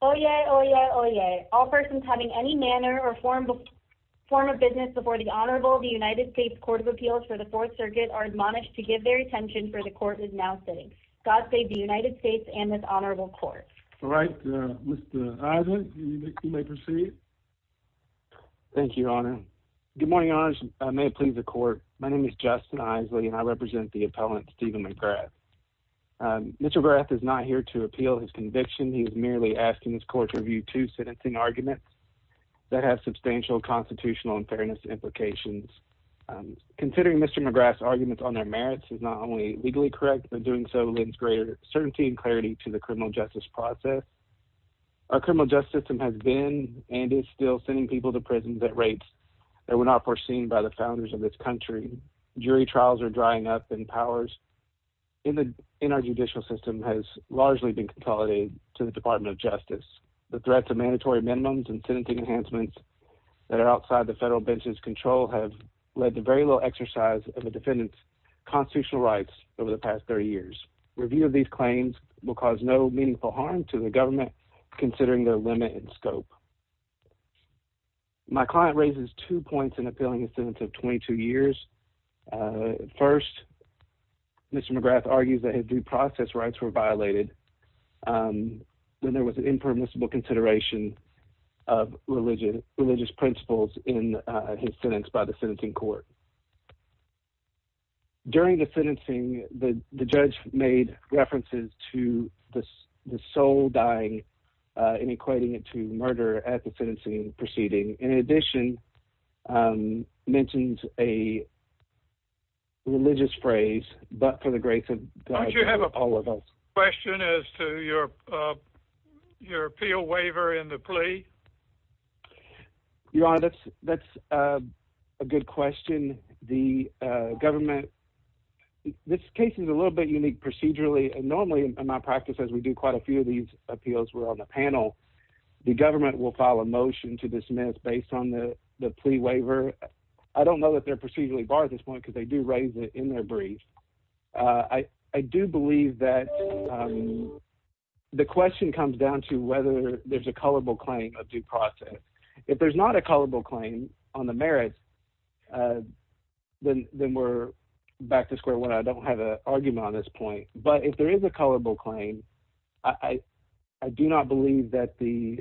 oh yeah oh yeah oh yeah all persons having any manner or form of form of business before the Honorable the United States Court of Appeals for the Fourth Circuit are admonished to give their attention for the court is now sitting God save the United States and this Honorable Court. All right, Mr. Isley, you may proceed. Thank you, Your Honor. Good morning, Your Honors. May it please the court. My name is Justin Isley and I represent the appellant Stephen McGrath. Mr. McGrath is not here to appeal his conviction. He is merely asking this court review two sentencing arguments that have substantial constitutional and fairness implications. Considering Mr. McGrath's arguments on their merits is not only legally correct but doing so lends greater certainty and clarity to the criminal justice process. Our criminal justice system has been and is still sending people to prisons at rates that were not foreseen by the founders of this country. Jury trials are been consolidated to the Department of Justice. The threats of mandatory minimums and sentencing enhancements that are outside the federal bench's control have led to very little exercise of a defendant's constitutional rights over the past 30 years. Review of these claims will cause no meaningful harm to the government considering their limit and scope. My client raises two points in appealing the sentence of 22 years. First, Mr. McGrath argues that his due process rights were violated when there was an impermissible consideration of religious principles in his sentence by the sentencing court. During the sentencing, the judge made references to the soul dying in equating it to murder at the sentencing proceeding. In addition, mentioned a religious phrase, but for the all of us. Question is to your your appeal waiver in the plea? Your honor, that's that's a good question. The government, this case is a little bit unique procedurally and normally in my practice as we do quite a few of these appeals were on the panel, the government will file a motion to dismiss based on the the plea waiver. I don't know that they're procedurally barred at this point because they do raise it in their brief. I do believe that the question comes down to whether there's a colorable claim of due process. If there's not a colorable claim on the merits, then we're back to square one. I don't have a argument on this point, but if there is a colorable claim, I do not believe that the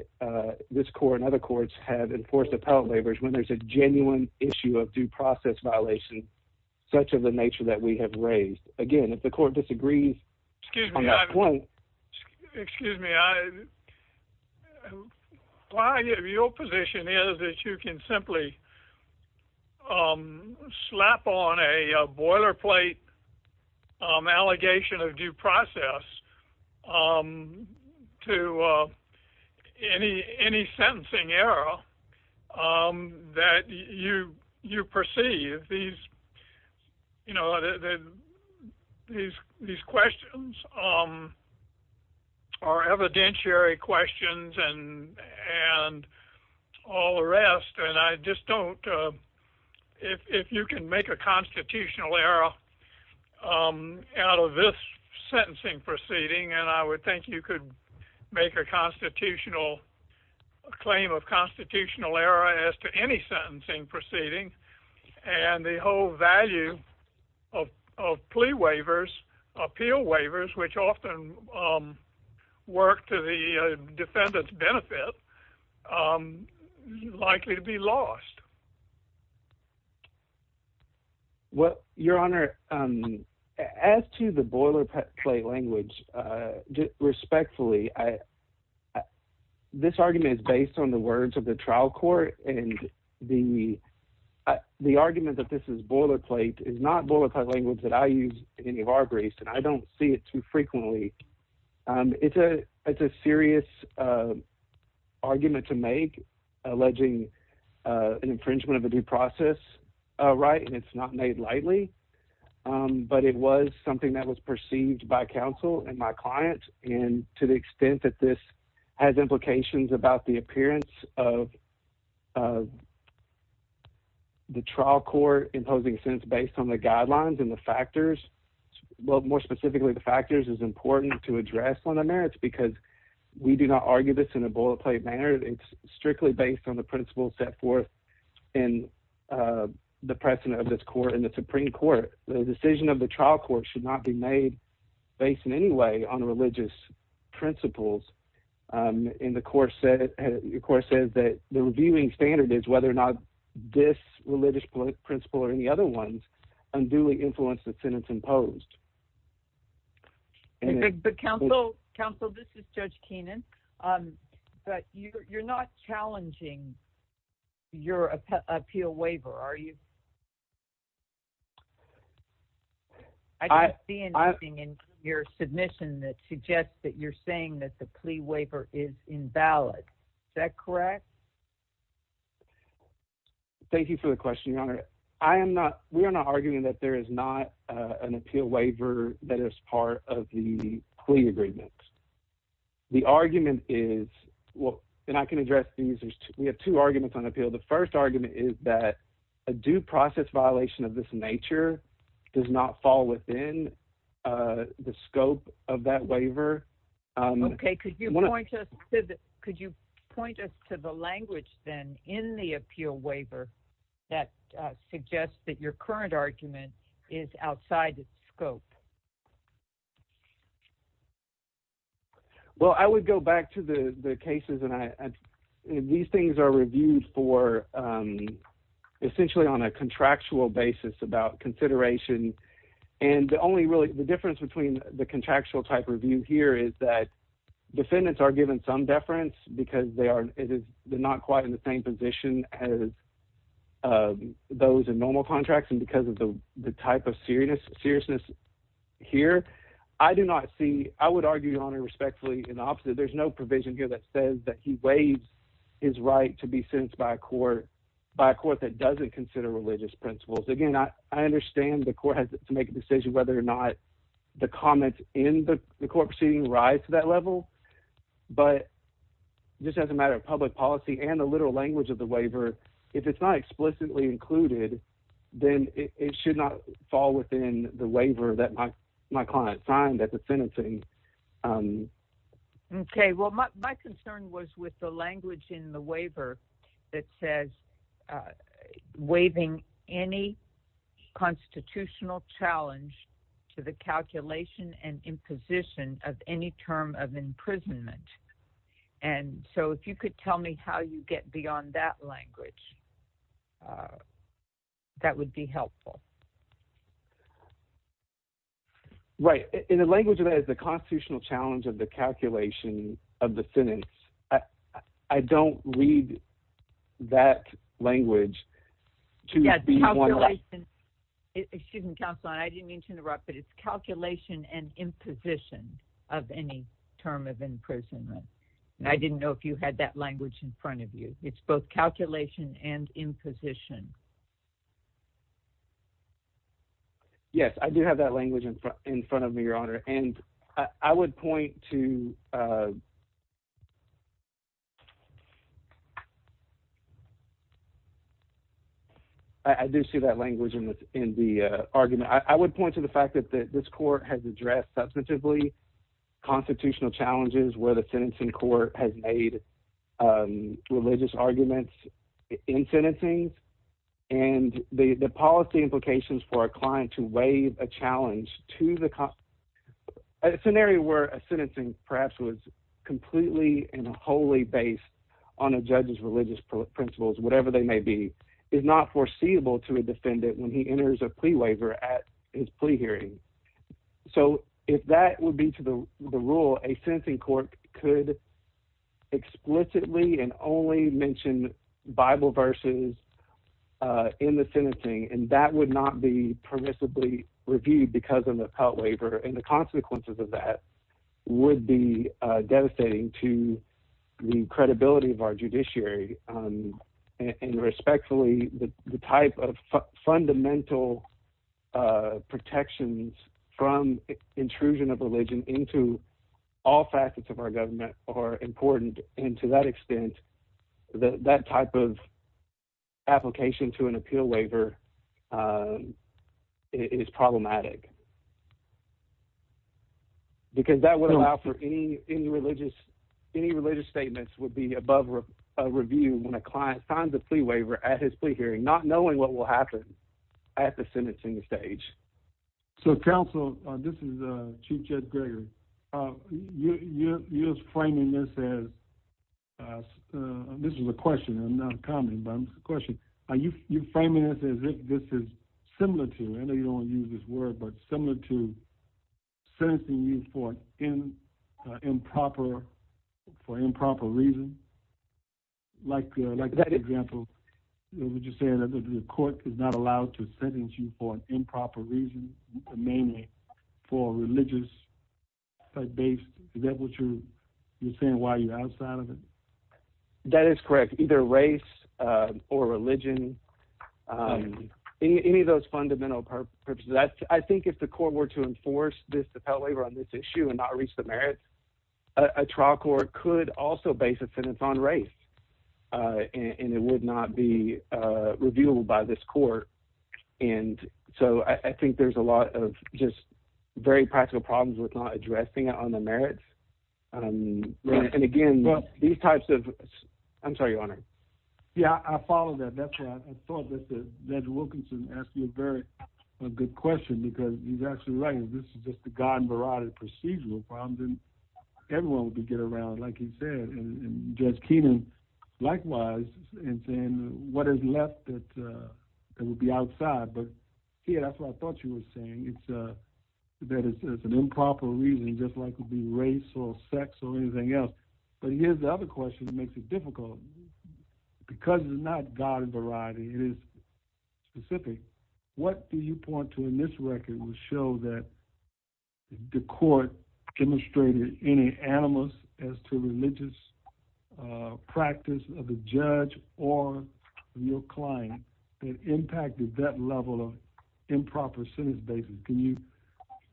this court and other courts have enforced appellate waivers when there's a genuine issue of due process violations such of the nature that we have raised. Again, if the court disagrees on that point. Excuse me, why your position is that you can simply slap on a boilerplate allegation of due process to any sentencing error that you perceive? These questions are evidentiary questions and all the rest and I just don't, if you can make a constitutional error out of this sentencing proceeding and I would think you could make a constitutional claim of constitutional error as to any sentencing proceeding and the whole value of plea waivers, appeal waivers, which often work to the defendant's benefit, likely to be lost. Well, your respectfully, this argument is based on the words of the trial court and the argument that this is boilerplate is not boilerplate language that I use in any of our briefs and I don't see it too frequently. It's a serious argument to make alleging an infringement of a due process right and it's not made lightly, but it was something that was perceived by counsel and my client and to the extent that this has implications about the appearance of the trial court imposing sentence based on the guidelines and the factors, well more specifically the factors, is important to address on the merits because we do not argue this in a boilerplate manner. It's strictly based on the principles set forth in the precedent of this court and the Supreme Court. The decision of the trial court should not be made based in any way on religious principles and the court said that the reviewing standard is whether or not this religious principle or any other ones unduly influenced the sentence imposed. Counsel, this is Judge Keenan, but you're not challenging your appeal waiver, are you? I don't see anything in your submission that suggests that you're saying that the plea waiver is invalid. Is that correct? Thank you for the question, Your Honor. I am not, we are not arguing that there is not an appeal waiver that is part of the plea agreements. The argument is, well and I can address these, we have two arguments on appeal. The first argument is that a due process violation of this nature does not fall within the scope of that waiver. Okay, could you point us to the, could you point us to the language then in the appeal waiver that suggests that your current argument is outside the scope? Well, I would go back to the cases and these things are reviewed for essentially on a contractual basis about consideration and the only really the difference between the contractual type review here is that defendants are given some deference because they are not quite in the same position as those in formal contracts and because of the type of seriousness here. I do not see, I would argue, Your Honor, respectfully in the opposite. There's no provision here that says that he waives his right to be sentenced by a court that doesn't consider religious principles. Again, I understand the court has to make a decision whether or not the comments in the court proceeding rise to that level, but just as a matter of public policy and the literal language of the waiver, if it's not explicitly included, then it should not fall within the waiver that my client signed at the sentencing. Okay, well my concern was with the language in the waiver that says waiving any constitutional challenge to the calculation and imposition of any term of imprisonment and so if you could tell me how you get beyond that language, that would be helpful. Right, in the language of that is the constitutional challenge of the calculation of the sentence. I don't read that language to be one that. Excuse me, counsel, I didn't mean to interrupt, but it's calculation and imposition of any term of imprisonment and I didn't know if you had that language in front of you. It's both calculation and imposition. Yes, I do have that language in front of me, Your Honor, and I would point to, I do see that language in the argument. I would point to the fact that this court has addressed substantively constitutional challenges where the sentencing court has made religious arguments in sentencing and the policy implications for a client to waive a challenge to the, a scenario where a sentencing perhaps was completely and wholly based on a judge's religious principles, whatever they may be, is not foreseeable to a defendant when he enters a plea waiver at his plea hearing. So if that would be to the rule, a sentencing court could explicitly and only mention Bible verses in the sentencing and that would not be permissibly reviewed because of the pelt waiver and the consequences of that would be devastating to the credibility of our judiciary and respectfully the type of fundamental protections from intrusion of religion into all facets of our government are important and to that extent that type of application to an appeal waiver is problematic because that would allow for any religious statements would be above review when a client signs a plea waiver at his plea hearing knowing what will happen at the sentencing stage. So counsel, this is Chief Judge Gregory, you're framing this as, this is a question, I'm not commenting, but it's a question. Are you framing this as if this is similar to, I know you don't want to use this word, but similar to sentencing you for improper, for improper reasons? Like, for example, would you say that the court is not allowed to sentence you for an improper reason, mainly for religious-based, is that what you're saying, why are you outside of it? That is correct, either race or religion, any of those fundamental purposes. I think if the court were to enforce this to pelt waiver on this issue and not reach the merits, a trial court could also base a sentence on race and it would not be reviewable by this court. And so I think there's a lot of just very practical problems with not addressing it on the merits. And again, these types of, I'm sorry, Your Honor. Yeah, I follow that, that's why I thought that Judge Wilkinson asked you a very good question because he's actually right. Because this is just a God variety of procedural problems and everyone would be getting around, like he said, and Judge Keenan, likewise, and saying what is left that will be outside. But yeah, that's what I thought you were saying, that it's an improper reason, just like it would be race or sex or anything else. But here's the other question that makes it difficult. Because it's not God variety, it is specific. What do you point to in this record will show that the court demonstrated any animus as to religious practice of the judge or your client that impacted that level of improper sentence basis? Can you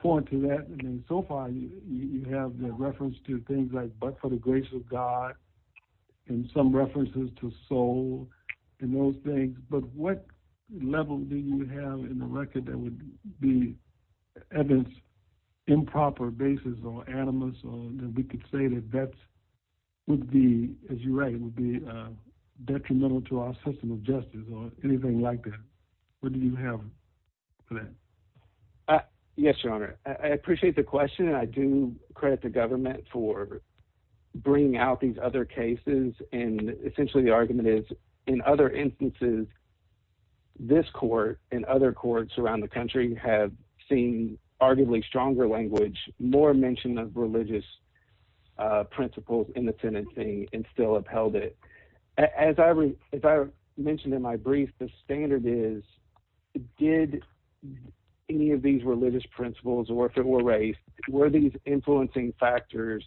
point to that? I mean, so far you have the reference to things like but for the grace of God and some references to soul and those things. But what level do you have in the record that would be evidence improper basis or animus or that we could say that that would be, as you write, would be detrimental to our system of justice or anything like that? What do you have for that? Yes, Your Honor. I appreciate the question. I do credit the government for bringing out these other cases. And essentially the argument is in other instances, this court and other courts around the country have seen arguably stronger language, more mention of religious principles in the tenancy and still upheld it. As I mentioned in my brief, the standard is did any of these religious principles or race, were these influencing factors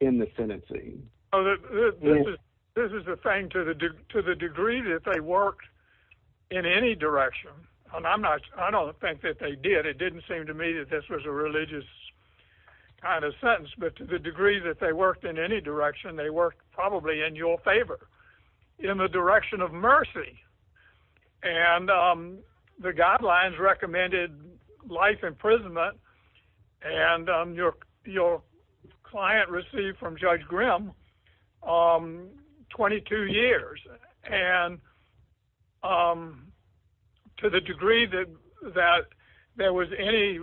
in the tenancy? This is the thing to the degree that they worked in any direction. I don't think that they did. But it didn't seem to me that this was a religious kind of sentence. But to the degree that they worked in any direction, they worked probably in your favor, in the direction of mercy. And the guidelines recommended life imprisonment. And your client received from Judge Grimm 22 years. And to the degree that there was any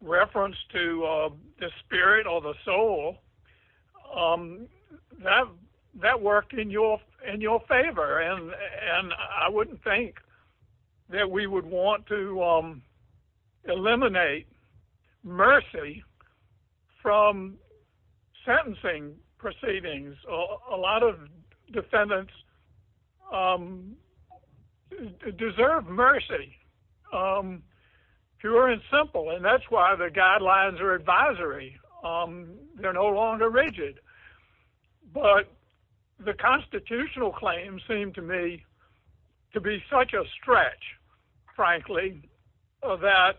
reference to the spirit or the soul, that worked in your favor. And I wouldn't think that we would want to eliminate mercy from sentencing proceedings. A lot of defendants deserve mercy, pure and simple. And that's why the guidelines are advisory. They're no longer rigid. But the constitutional claim seemed to me to be such a stretch, frankly, that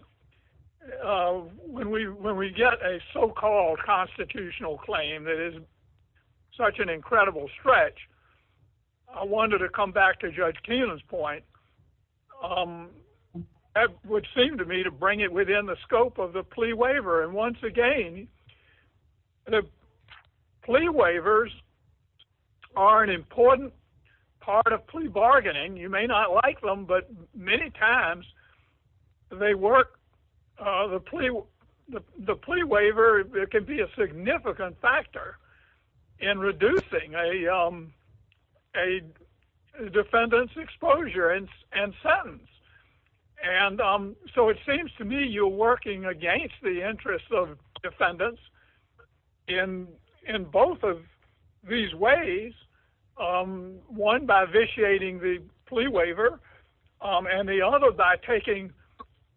when we get a so-called constitutional claim that is such an incredible stretch, I wanted to come back to Judge Keenan's point. That would seem to me to bring it within the scope of the plea waiver. And once again, the plea waivers are an important part of plea bargaining. You may not like them, but many times they work. The plea waiver can be a significant factor in reducing a defendant's exposure and sentence. And so it seems to me you're working against the interests of defendants in both of these ways. One, by vitiating the plea waiver. And the other, by taking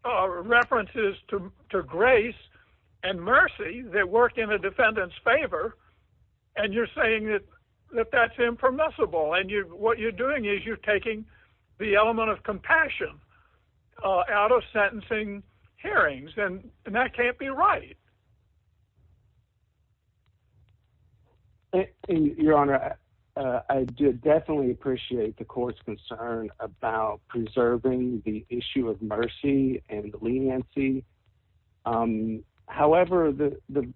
references to grace and mercy that work in a defendant's favor. And you're saying that that's impermissible. And what you're doing is you're taking the element of compassion out of sentencing hearings. And that can't be right. Your Honor, I do definitely appreciate the court's concern about preserving the issue of mercy and leniency. However, the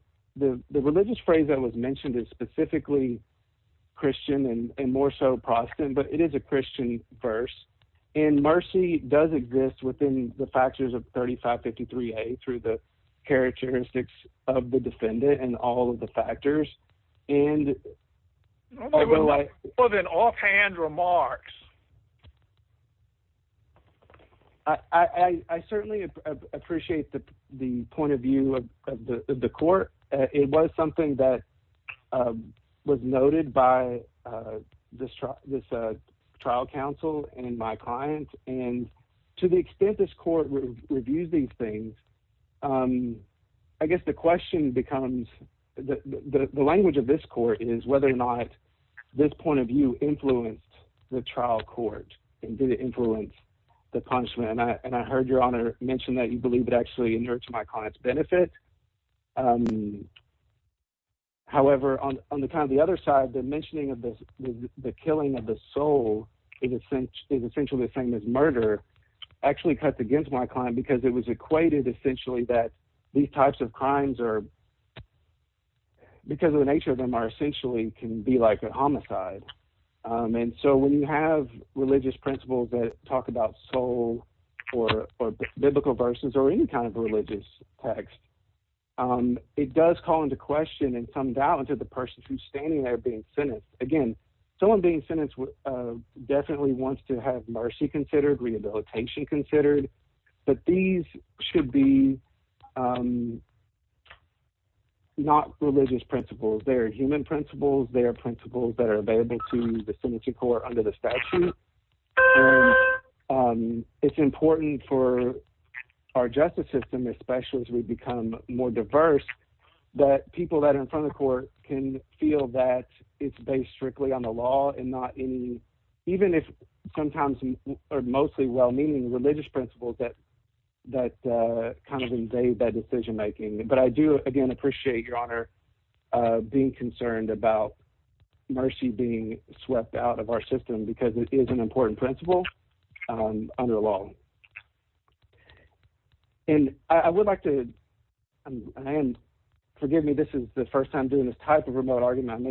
religious phrase that was mentioned is specifically Christian and more so Protestant, but it is a Christian verse. And mercy does exist within the factors of 3553A through the characteristics of the defendant and all of the factors. More than offhand remarks. I certainly appreciate the point of view of the court. It was something that was noted by this trial counsel and my client. And to the extent this court reviews these things, I guess the question becomes, the language of this court is whether or not this point of view influenced the trial court and did it influence the punishment. And I heard, Your Honor, mention that you believe it actually inured to my client's benefit. However, on the other side, the mentioning of the killing of the soul is essentially the same as murder actually cuts against my client because it was equated essentially that these types of crimes are – because of the nature of them are essentially can be like a homicide. And so when you have religious principles that talk about soul or biblical verses or any kind of religious text, it does call into question and some doubt into the person who's standing there being sentenced. Again, someone being sentenced definitely wants to have mercy considered, rehabilitation considered. But these should be not religious principles. They are human principles. They are principles that are available to the sentencing court under the statute. And it's important for our justice system, especially as we become more diverse, that people that are in front of the court can feel that it's based strictly on the law and not any – even if sometimes or mostly well-meaning religious principles that kind of invade that decision-making. But I do, again, appreciate, Your Honor, being concerned about mercy being swept out of our system because it is an important principle under the law. And I would like to – forgive me. This is the first time I'm doing this type of remote argument.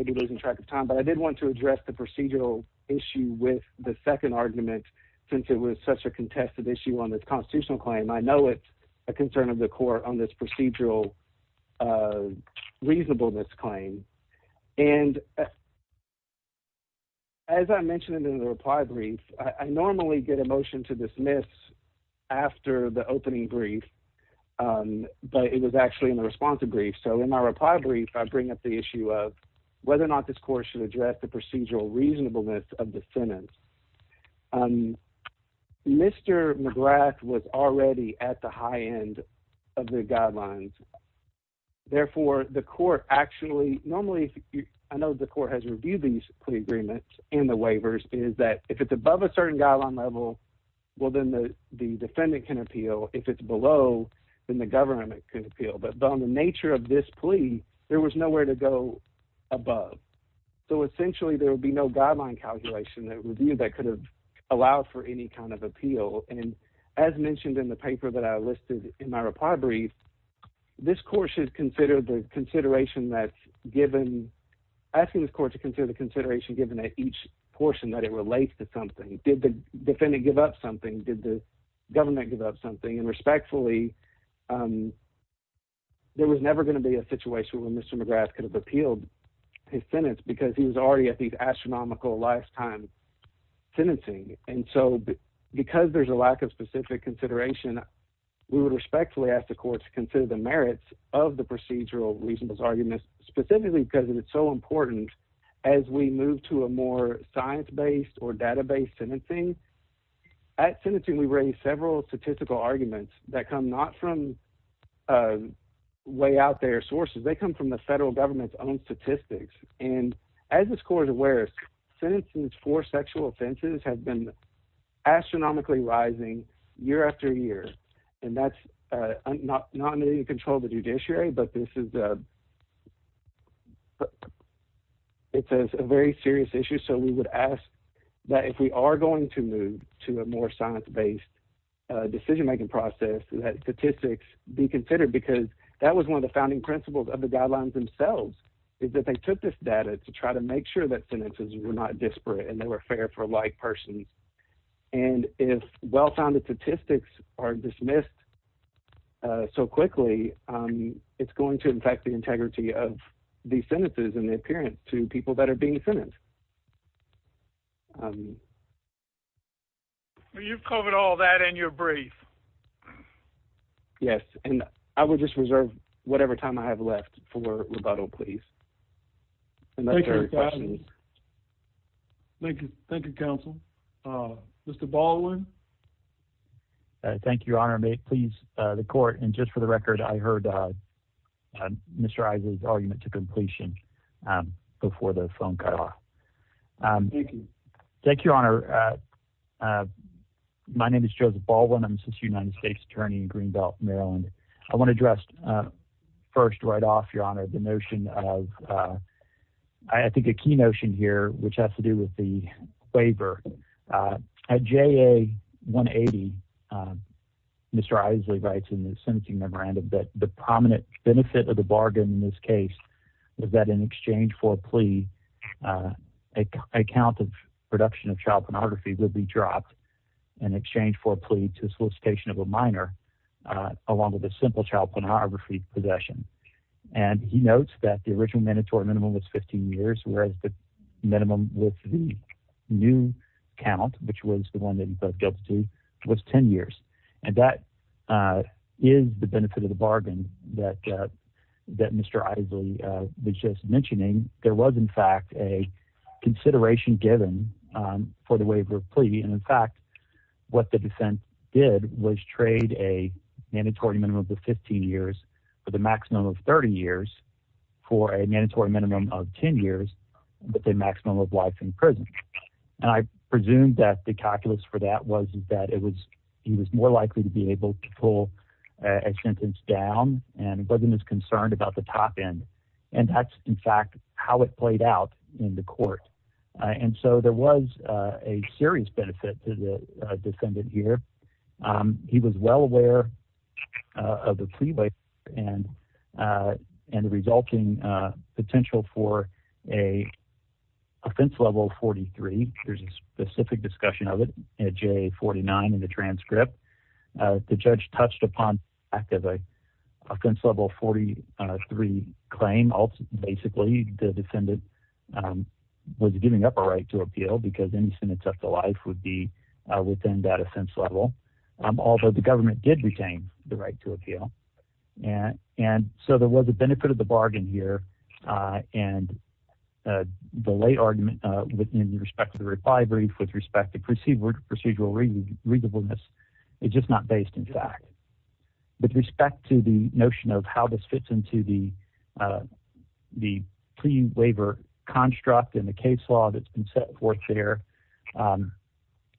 But I did want to address the procedural issue with the second argument since it was such a contested issue on this constitutional claim. I know it's a concern of the court on this procedural reasonableness claim. And as I mentioned in the reply brief, I normally get a motion to dismiss after the opening brief, but it was actually in the responsive brief. So in my reply brief, I bring up the issue of whether or not this court should address the procedural reasonableness of the sentence. Mr. McGrath was already at the high end of the guidelines. Therefore, the court actually – normally, I know the court has reviewed these plea agreements and the waivers, is that if it's above a certain guideline level, well, then the defendant can appeal. If it's below, then the government can appeal. But on the nature of this plea, there was nowhere to go above. So essentially, there would be no guideline calculation that could have allowed for any kind of appeal. And as mentioned in the paper that I listed in my reply brief, this court should consider the consideration that's given – asking this court to consider the consideration given at each portion that it relates to something. Did the defendant give up something? Did the government give up something? And respectfully, there was never going to be a situation where Mr. McGrath could have appealed his sentence because he was already at the astronomical lifetime sentencing. And so because there's a lack of specific consideration, we would respectfully ask the court to consider the merits of the procedural reasonableness argument, specifically because it is so important as we move to a more science-based or data-based sentencing. At sentencing, we raise several statistical arguments that come not from way out there sources. They come from the federal government's own statistics. And as this court is aware, sentencing for sexual offenses has been astronomically rising year after year. And that's not under the control of the judiciary, but this is a very serious issue. So we would ask that if we are going to move to a more science-based decision-making process, that statistics be considered because that was one of the founding principles of the guidelines themselves is that they took this data to try to make sure that sentences were not disparate and they were fair for like persons. And if well-founded statistics are dismissed so quickly, it's going to affect the integrity of the sentences and the appearance to people that are being sentenced. You've covered all that in your brief. Yes, and I would just reserve whatever time I have left for rebuttal, please. Thank you. Thank you, counsel. Mr. Baldwin. Thank you, Your Honor. May it please the court. And just for the record, I heard Mr. Isaac's argument to completion before the phone cut off. Thank you, Your Honor. I'm a United States attorney in Greenbelt, Maryland. I want to address first right off, Your Honor, the notion of I think a key notion here, which has to do with the waiver. At JA 180, Mr. Isley writes in the sentencing memorandum that the prominent benefit of the bargain in this case was that in exchange for a plea, a count of reduction of child pornography would be dropped in exchange for a plea to solicitation of a minor along with a simple child pornography possession. And he notes that the original mandatory minimum was 15 years, whereas the minimum with the new count, which was the one that he felt guilty, was 10 years. And that is the benefit of the bargain that Mr. Isley was just mentioning. There was, in fact, a consideration given for the waiver plea. And, in fact, what the defense did was trade a mandatory minimum of 15 years for the maximum of 30 years for a mandatory minimum of 10 years with a maximum of life in prison. And I presume that the calculus for that was that it was he was more likely to be able to pull a sentence down and wasn't as concerned about the top end. And that's, in fact, how it played out in the court. And so there was a serious benefit to the defendant here. He was well aware of the plea waiver and the resulting potential for a offense level 43. There's a specific discussion of it at JA 49 in the transcript. The judge touched upon the fact of an offense level 43 claim. Basically, the defendant was giving up a right to appeal because any sentence up to life would be within that offense level, although the government did retain the right to appeal. And so there was a benefit of the bargain here. And the lay argument in respect to the refinery with respect to procedural readableness is just not based in fact. With respect to the notion of how this fits into the plea waiver construct and the case law that's been set forth there,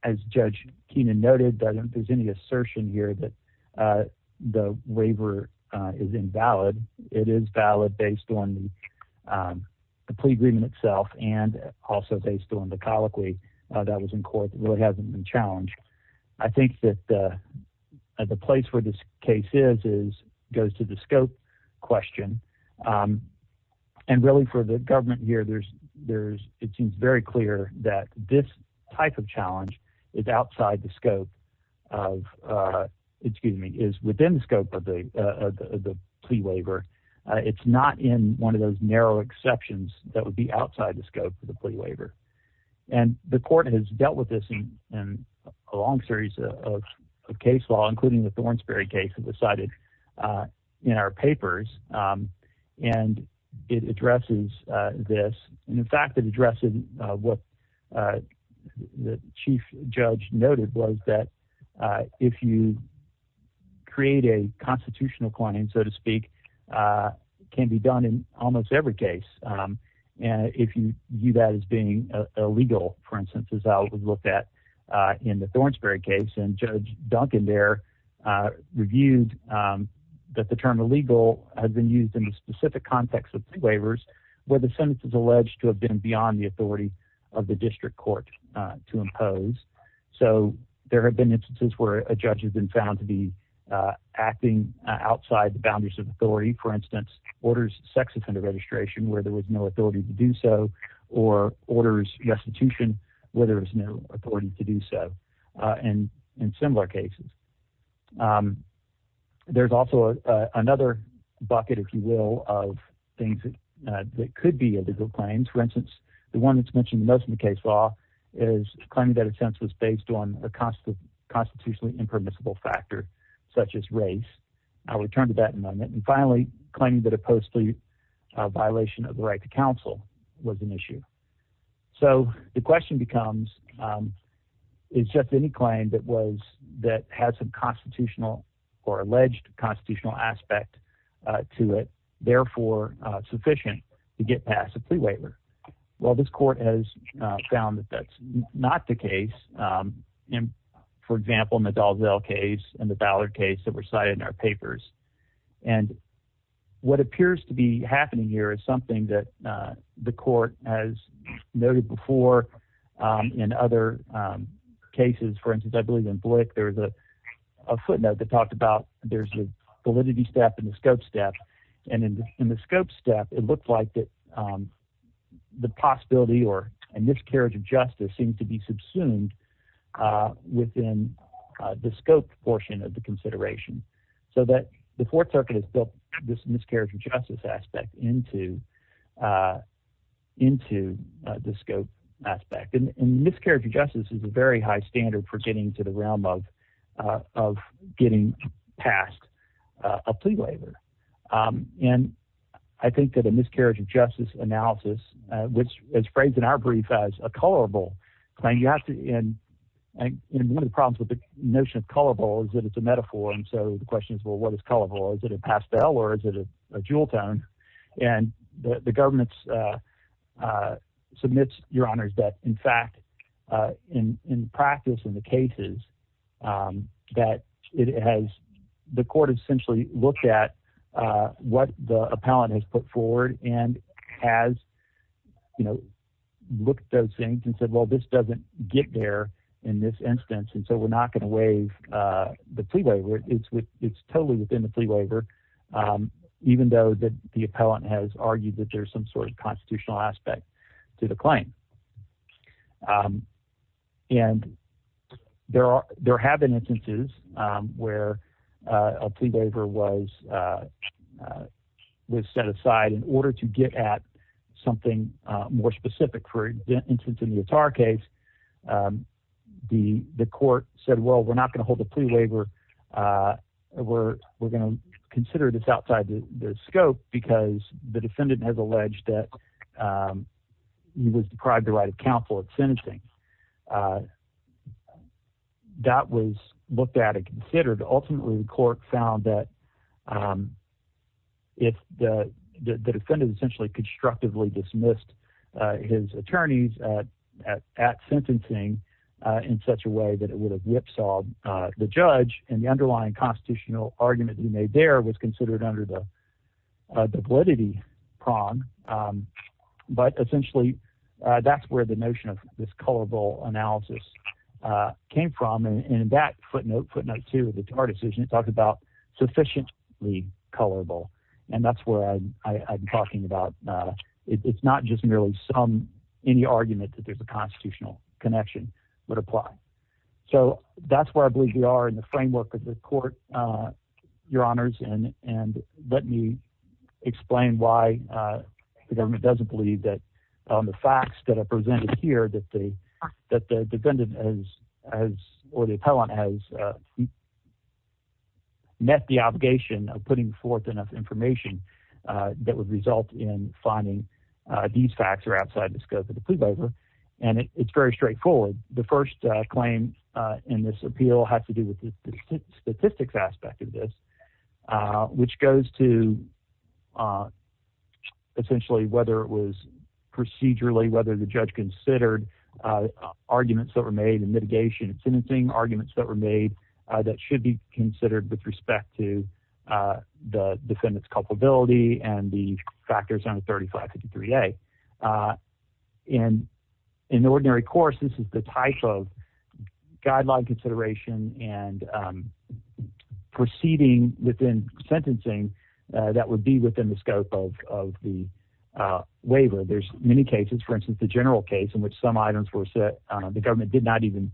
as Judge Keenan noted, there's any assertion here that the waiver is invalid. It is valid based on the plea agreement itself and also based on the colloquy that was in court that really hasn't been challenged. I think that the place where this case is goes to the scope question. And really for the government here, it seems very clear that this type of challenge is outside the scope of – excuse me, is within the scope of the plea waiver. It's not in one of those narrow exceptions that would be outside the scope of the plea waiver. And the court has dealt with this in a long series of case law, including the Thornsberry case that was cited in our papers. And it addresses this. And in fact, it addresses what the chief judge noted was that if you create a constitutional claim, so to speak, it can be done in almost every case. And if you view that as being illegal, for instance, as I would look at in the Thornsberry case, and Judge Duncan there reviewed that the term illegal has been used in the specific context of plea waivers where the sentence is alleged to have been beyond the authority of the district court to impose. So there have been instances where a judge has been found to be acting outside the boundaries of authority. For instance, orders sex offender registration where there was no authority to do so or orders restitution where there was no authority to do so in similar cases. There's also another bucket, if you will, of things that could be illegal claims. For instance, the one that's mentioned most in the case law is claiming that a sentence was based on a constitutionally impermissible factor such as race. I'll return to that in a moment. And finally, claiming that a post-plea violation of the right to counsel was an issue. So the question becomes is just any claim that has a constitutional or alleged constitutional aspect to it therefore sufficient to get past a plea waiver? Well, this court has found that that's not the case. For example, in the Dalzell case and the Ballard case that were cited in our papers. And what appears to be happening here is something that the court has noted before in other cases. For instance, I believe in Blick there was a footnote that talked about there's a validity step and a scope step. And in the scope step, it looked like the possibility or a miscarriage of justice seemed to be subsumed within the scope portion of the consideration. So the Fourth Circuit has built this miscarriage of justice aspect into the scope aspect. And miscarriage of justice is a very high standard for getting to the realm of getting past a plea waiver. And I think that a miscarriage of justice analysis, which is phrased in our brief as a colorable claim. And one of the problems with the notion of colorable is that it's a metaphor. And so the question is, well, what is colorable? Is it a pastel or is it a jewel tone? And the government submits, Your Honors, that in fact in practice in the cases that it has – the court essentially looked at what the appellant has put forward and has looked at those things and said, well, this doesn't get there in this instance. And so we're not going to waive the plea waiver. It's totally within the plea waiver even though the appellant has argued that there's some sort of constitutional aspect to the claim. And there have been instances where a plea waiver was set aside in order to get at something more specific. For instance, in the Attar case, the court said, well, we're not going to hold the plea waiver. We're going to consider this outside the scope because the defendant has alleged that he was deprived the right of counsel at sentencing. That was looked at and considered. And ultimately the court found that the defendant essentially constructively dismissed his attorneys at sentencing in such a way that it would have whipsawed the judge. And the underlying constitutional argument he made there was considered under the validity prong. But essentially that's where the notion of this colorable analysis came from. And in that footnote, footnote two of the Attar decision, it talks about sufficiently colorable. And that's where I'm talking about. It's not just merely any argument that there's a constitutional connection would apply. So that's where I believe we are in the framework of the court, Your Honors. And let me explain why the government doesn't believe that the facts that are presented here, that the defendant or the appellant has met the obligation of putting forth enough information that would result in finding these facts are outside the scope of the plea waiver. And it's very straightforward. The first claim in this appeal has to do with the statistics aspect of this, which goes to essentially whether it was procedurally, whether the judge considered arguments that were made in mitigation and sentencing, arguments that were made that should be considered with respect to the defendant's culpability and the factors under 3553A. And in ordinary course, this is the type of guideline consideration and proceeding within sentencing that would be within the scope of the waiver. There's many cases. For instance, the general case in which some items were set, the government did not even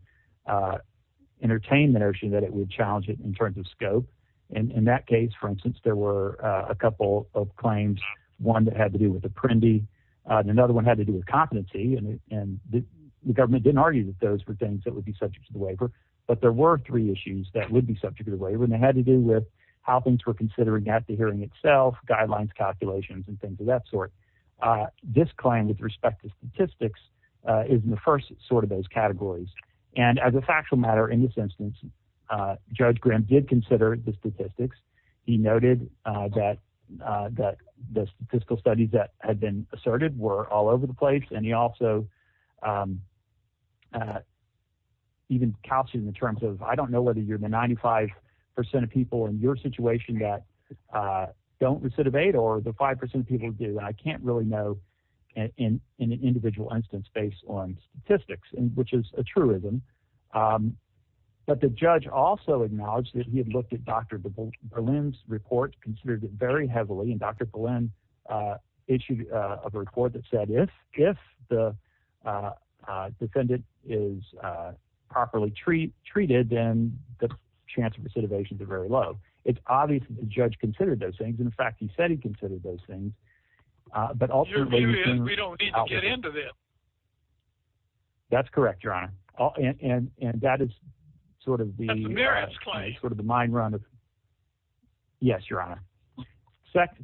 entertain the notion that it would challenge it in terms of scope. In that case, for instance, there were a couple of claims, one that had to do with apprendi, and another one had to do with competency. And the government didn't argue that those were things that would be subject to the waiver. But there were three issues that would be subject to the waiver, and they had to do with how things were considered at the hearing itself, guidelines, calculations, and things of that sort. This claim with respect to statistics is in the first sort of those categories. And as a factual matter in this instance, Judge Graham did consider the statistics. He noted that the statistical studies that had been asserted were all over the place, and he also even calculated in terms of I don't know whether you're the 95% of people in your situation that don't recidivate or the 5% of people do. I can't really know in an individual instance based on statistics, which is a truism. But the judge also acknowledged that he had looked at Dr. Berlin's report, considered it very heavily. And Dr. Berlin issued a report that said if the defendant is properly treated, then the chance of recidivation is very low. So it's obvious that the judge considered those things. In fact, he said he considered those things. But also – We don't need to get into this. That's correct, Your Honor. And that is sort of the – That's a merits claim. Yes, Your Honor.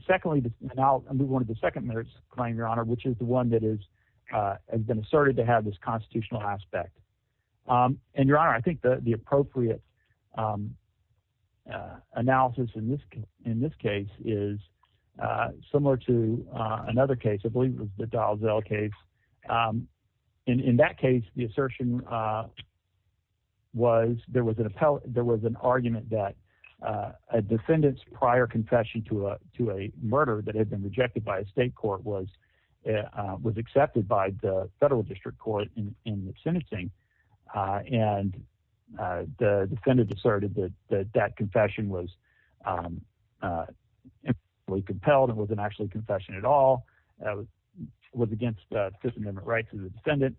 Secondly, and I'll move on to the second merits claim, Your Honor, which is the one that has been asserted to have this constitutional aspect. And, Your Honor, I think the appropriate analysis in this case is similar to another case. I believe it was the Dalziel case. In that case, the assertion was there was an argument that a defendant's prior confession to a murder that had been rejected by a state court was accepted by the federal district court in the sentencing. And the defendant asserted that that confession was impeccably compelled. It wasn't actually a confession at all. It was against the Fifth Amendment rights of the defendant.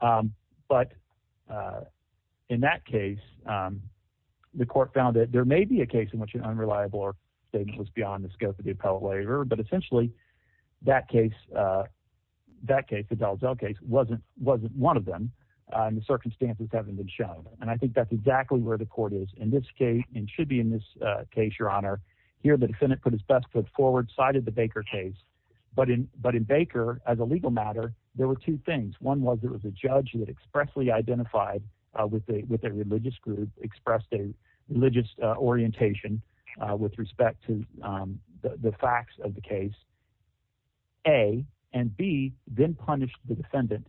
But in that case, the court found that there may be a case in which an unreliable statement was beyond the scope of the appellate waiver. But essentially that case, the Dalziel case, wasn't one of them in the circumstances that have been shown. And I think that's exactly where the court is in this case and should be in this case, Your Honor. Here the defendant put his best foot forward, sided the Baker case. But in Baker, as a legal matter, there were two things. One was it was a judge that expressly identified with a religious group, expressed a religious orientation with respect to the facts of the case. A, and B, then punished the defendant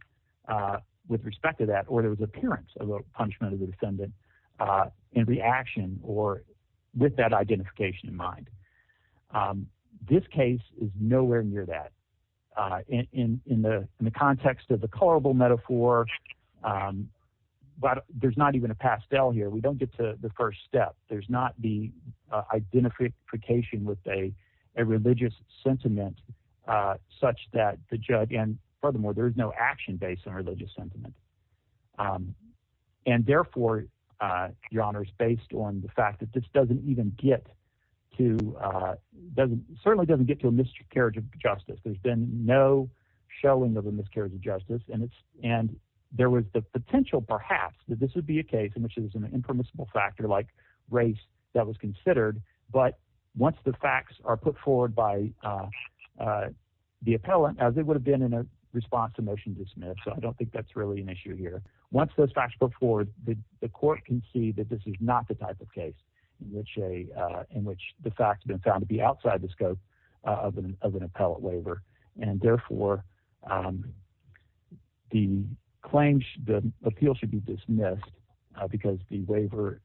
with respect to that, or there was appearance of a punishment of the defendant in reaction or with that identification in mind. This case is nowhere near that. In the context of the colorable metaphor, there's not even a pastel here. We don't get to the first step. There's not the identification with a religious sentiment such that the judge – and furthermore, there is no action based on religious sentiment. And therefore, Your Honor, it's based on the fact that this doesn't even get to – certainly doesn't get to a miscarriage of justice. There's been no showing of a miscarriage of justice, and there was the potential perhaps that this would be a case in which there was an impermissible factor like race that was considered. But once the facts are put forward by the appellant, as it would have been in a response to motion to submit, so I don't think that's really an issue here. Once those facts are put forward, the court can see that this is not the type of case in which the facts have been found to be outside the scope of an appellant waiver. And therefore, the claim – the appeal should be dismissed because the waiver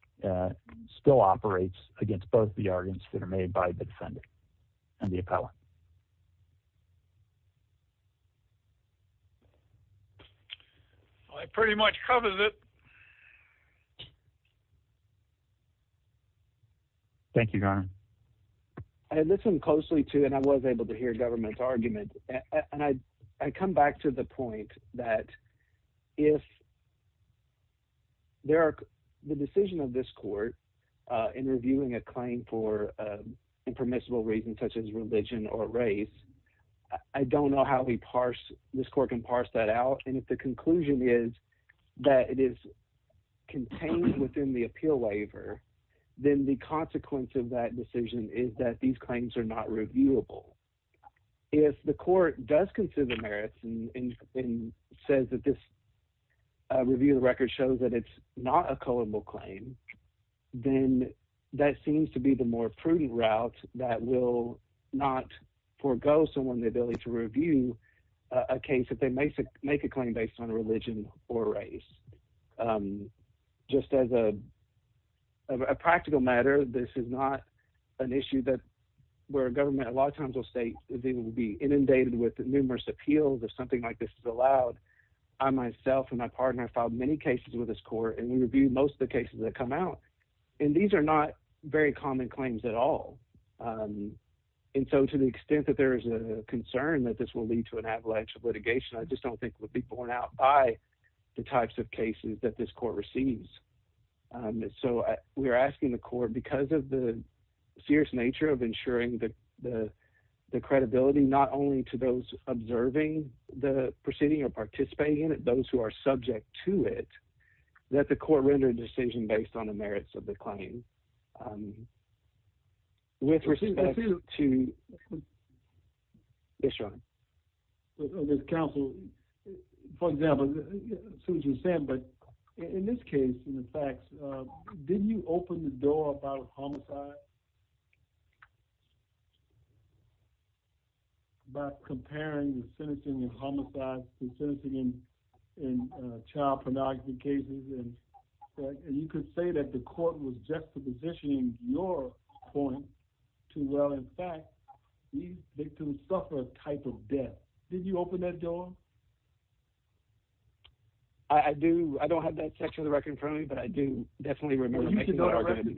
still operates against both the arguments that are made by the defendant and the appellant. So that pretty much covers it. Thank you, Your Honor. I listened closely to and I was able to hear government's argument, and I come back to the point that if there are – the decision of this court in reviewing a claim for impermissible reasons such as religion or race, I don't know how we parse – this court can parse that out. And if the conclusion is that it is contained within the appeal waiver, then the consequence of that decision is that these claims are not reviewable. If the court does consider the merits and says that this review of the record shows that it's not a culpable claim, then that seems to be the more prudent route that will not forego someone the ability to review a case if they make a claim based on religion or race. Just as a practical matter, this is not an issue that – where a government a lot of times will say they will be inundated with numerous appeals if something like this is allowed. I myself and my partner filed many cases with this court, and we reviewed most of the cases that come out, and these are not very common claims at all. And so to the extent that there is a concern that this will lead to an avalanche of litigation, I just don't think it would be borne out by the types of cases that this court receives. So we are asking the court, because of the serious nature of ensuring the credibility not only to those observing the proceeding or participating in it, those who are subject to it, that the court render a decision based on the merits of the claim. With respect to – yes, Sean. Counsel, for example, I see what you're saying, but in this case, in the facts, didn't you open the door about homicide? About comparing the sentencing of homicides to sentencing in child pornography cases, and you could say that the court was juxtapositioning your point to, well, in fact, these victims suffer a type of death. Did you open that door? I do – I don't have that section of the record in front of me, but I do definitely remember making that argument.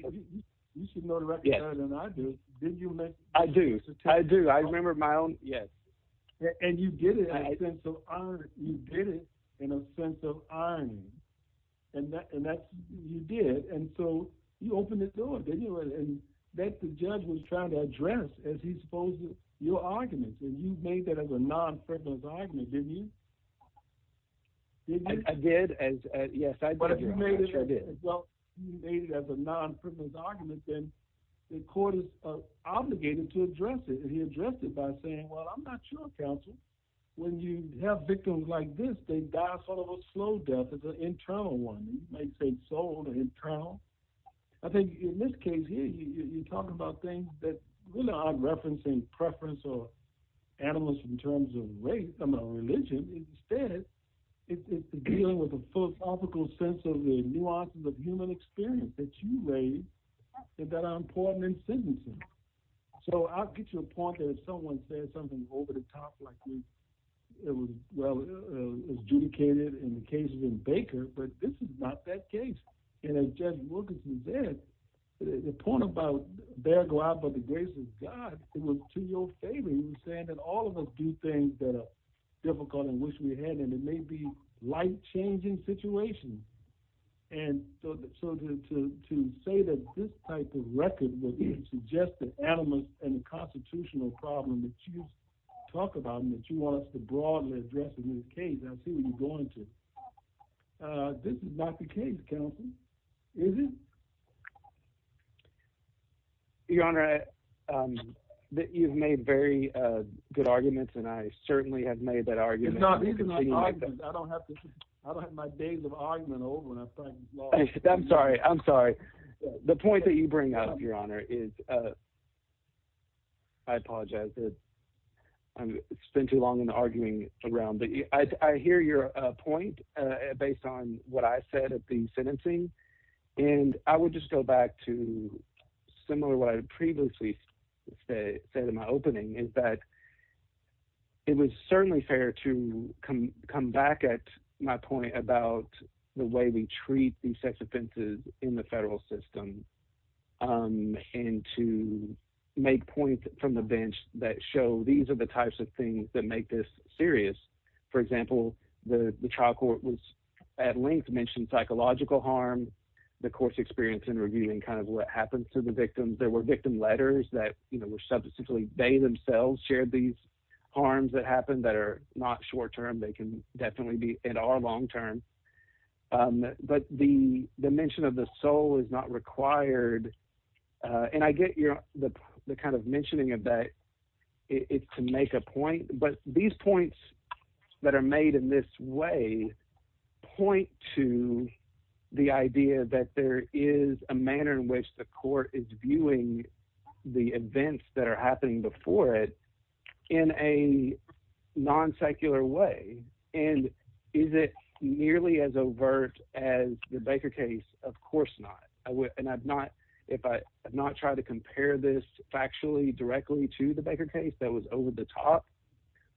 You should know the record better than I do. I do. I do. I remember my own – yes. And you did it in a sense of irony. And that's – you did. And so you opened the door, didn't you? And the judge was trying to address, as he's supposed to, your arguments, and you made that as a non-frivolous argument, didn't you? I did. Yes, I did. Well, you made it as a non-frivolous argument, then the court is obligated to address it. And he addressed it by saying, well, I'm not sure, counsel, when you have victims like this, they die sort of a slow death as an internal one. You might say sold or internal. I think in this case here, you're talking about things that we're not referencing preference or animals in terms of race or religion. Instead, it's dealing with the philosophical sense of the nuances of human experience that you raised that are important in sentencing. So I'll get to the point that if someone says something over the top like it was adjudicated in the case of Baker, but this is not that case. And as Judge Wilkinson said, the point about bear glad by the grace of God, it was to your favor. He was saying that all of us do things that are difficult in which we had, and it may be life-changing situations. And so to say that this type of record would suggest that animals and the constitutional problem that you talk about and that you want us to broadly address in this case, I see where you're going to. This is not the case, counsel. Is it? Your Honor, you've made very good arguments, and I certainly have made that argument. These are not arguments. I don't have my days of argument over when I'm fighting law. I'm sorry. I'm sorry. The point that you bring up, Your Honor, is – I apologize. It's been too long in arguing around. But I hear your point based on what I said at the sentencing, and I would just go back to similar what I previously said in my opening, is that it was certainly fair to come back at my point about the way we treat these sex offenses in the federal system and to make points from the bench that show these are the types of things that make this serious. For example, the trial court was at length mentioned psychological harm, the court's experience in reviewing kind of what happens to the victims. There were victim letters that were substantially – they themselves shared these harms that happened that are not short term. They can definitely be in our long term. But the mention of the soul is not required, and I get the kind of mentioning of that to make a point. But these points that are made in this way point to the idea that there is a manner in which the court is viewing the events that are happening before it in a non-secular way. And is it nearly as overt as the Baker case? Of course not. And I've not tried to compare this factually directly to the Baker case that was over the top,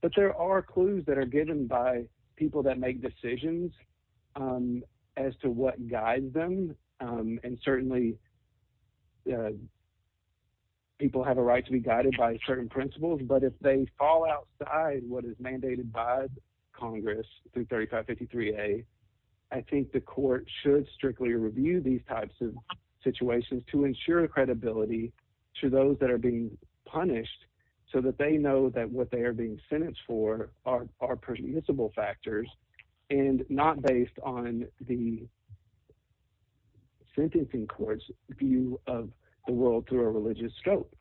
but there are clues that are given by people that make decisions as to what guides them. And certainly people have a right to be guided by certain principles, but if they fall outside what is mandated by Congress through 3553A, I think the court should strictly review these types of situations to ensure credibility to those that are being punished so that they know that what they are being sentenced for are permissible factors and not based on the sentencing court's view of the world through a religious scope.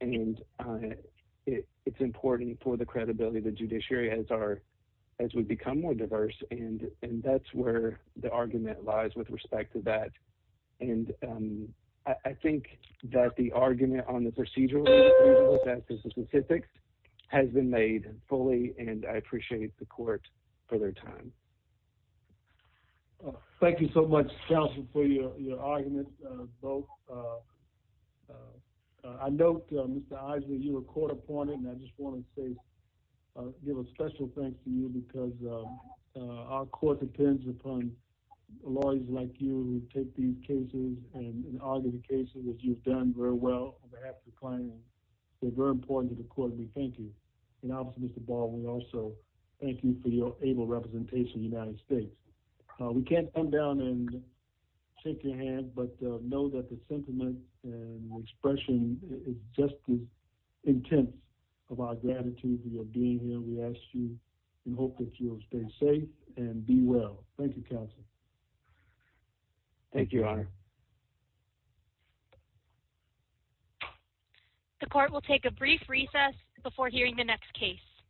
And it's important for the credibility of the judiciary as we become more diverse, and that's where the argument lies with respect to that. And I think that the argument on the procedural and procedural justice specifics has been made fully, and I appreciate the court for their time. Thank you so much, counsel, for your argument. I note, Mr. Eisner, you were court appointed, and I just want to say, give a special thanks to you because our court depends upon lawyers like you who take these cases and argue the cases that you've done very well on behalf of the client. They're very important to the court, and we thank you. And obviously, Mr. Ball, we also thank you for your able representation in the United States. We can't come down and shake your hand, but know that the sentiment and expression is just as intense of our gratitude for your being here. We ask you and hope that you will stay safe and be well. Thank you, counsel. Thank you, Your Honor. The court will take a brief recess before hearing the next case.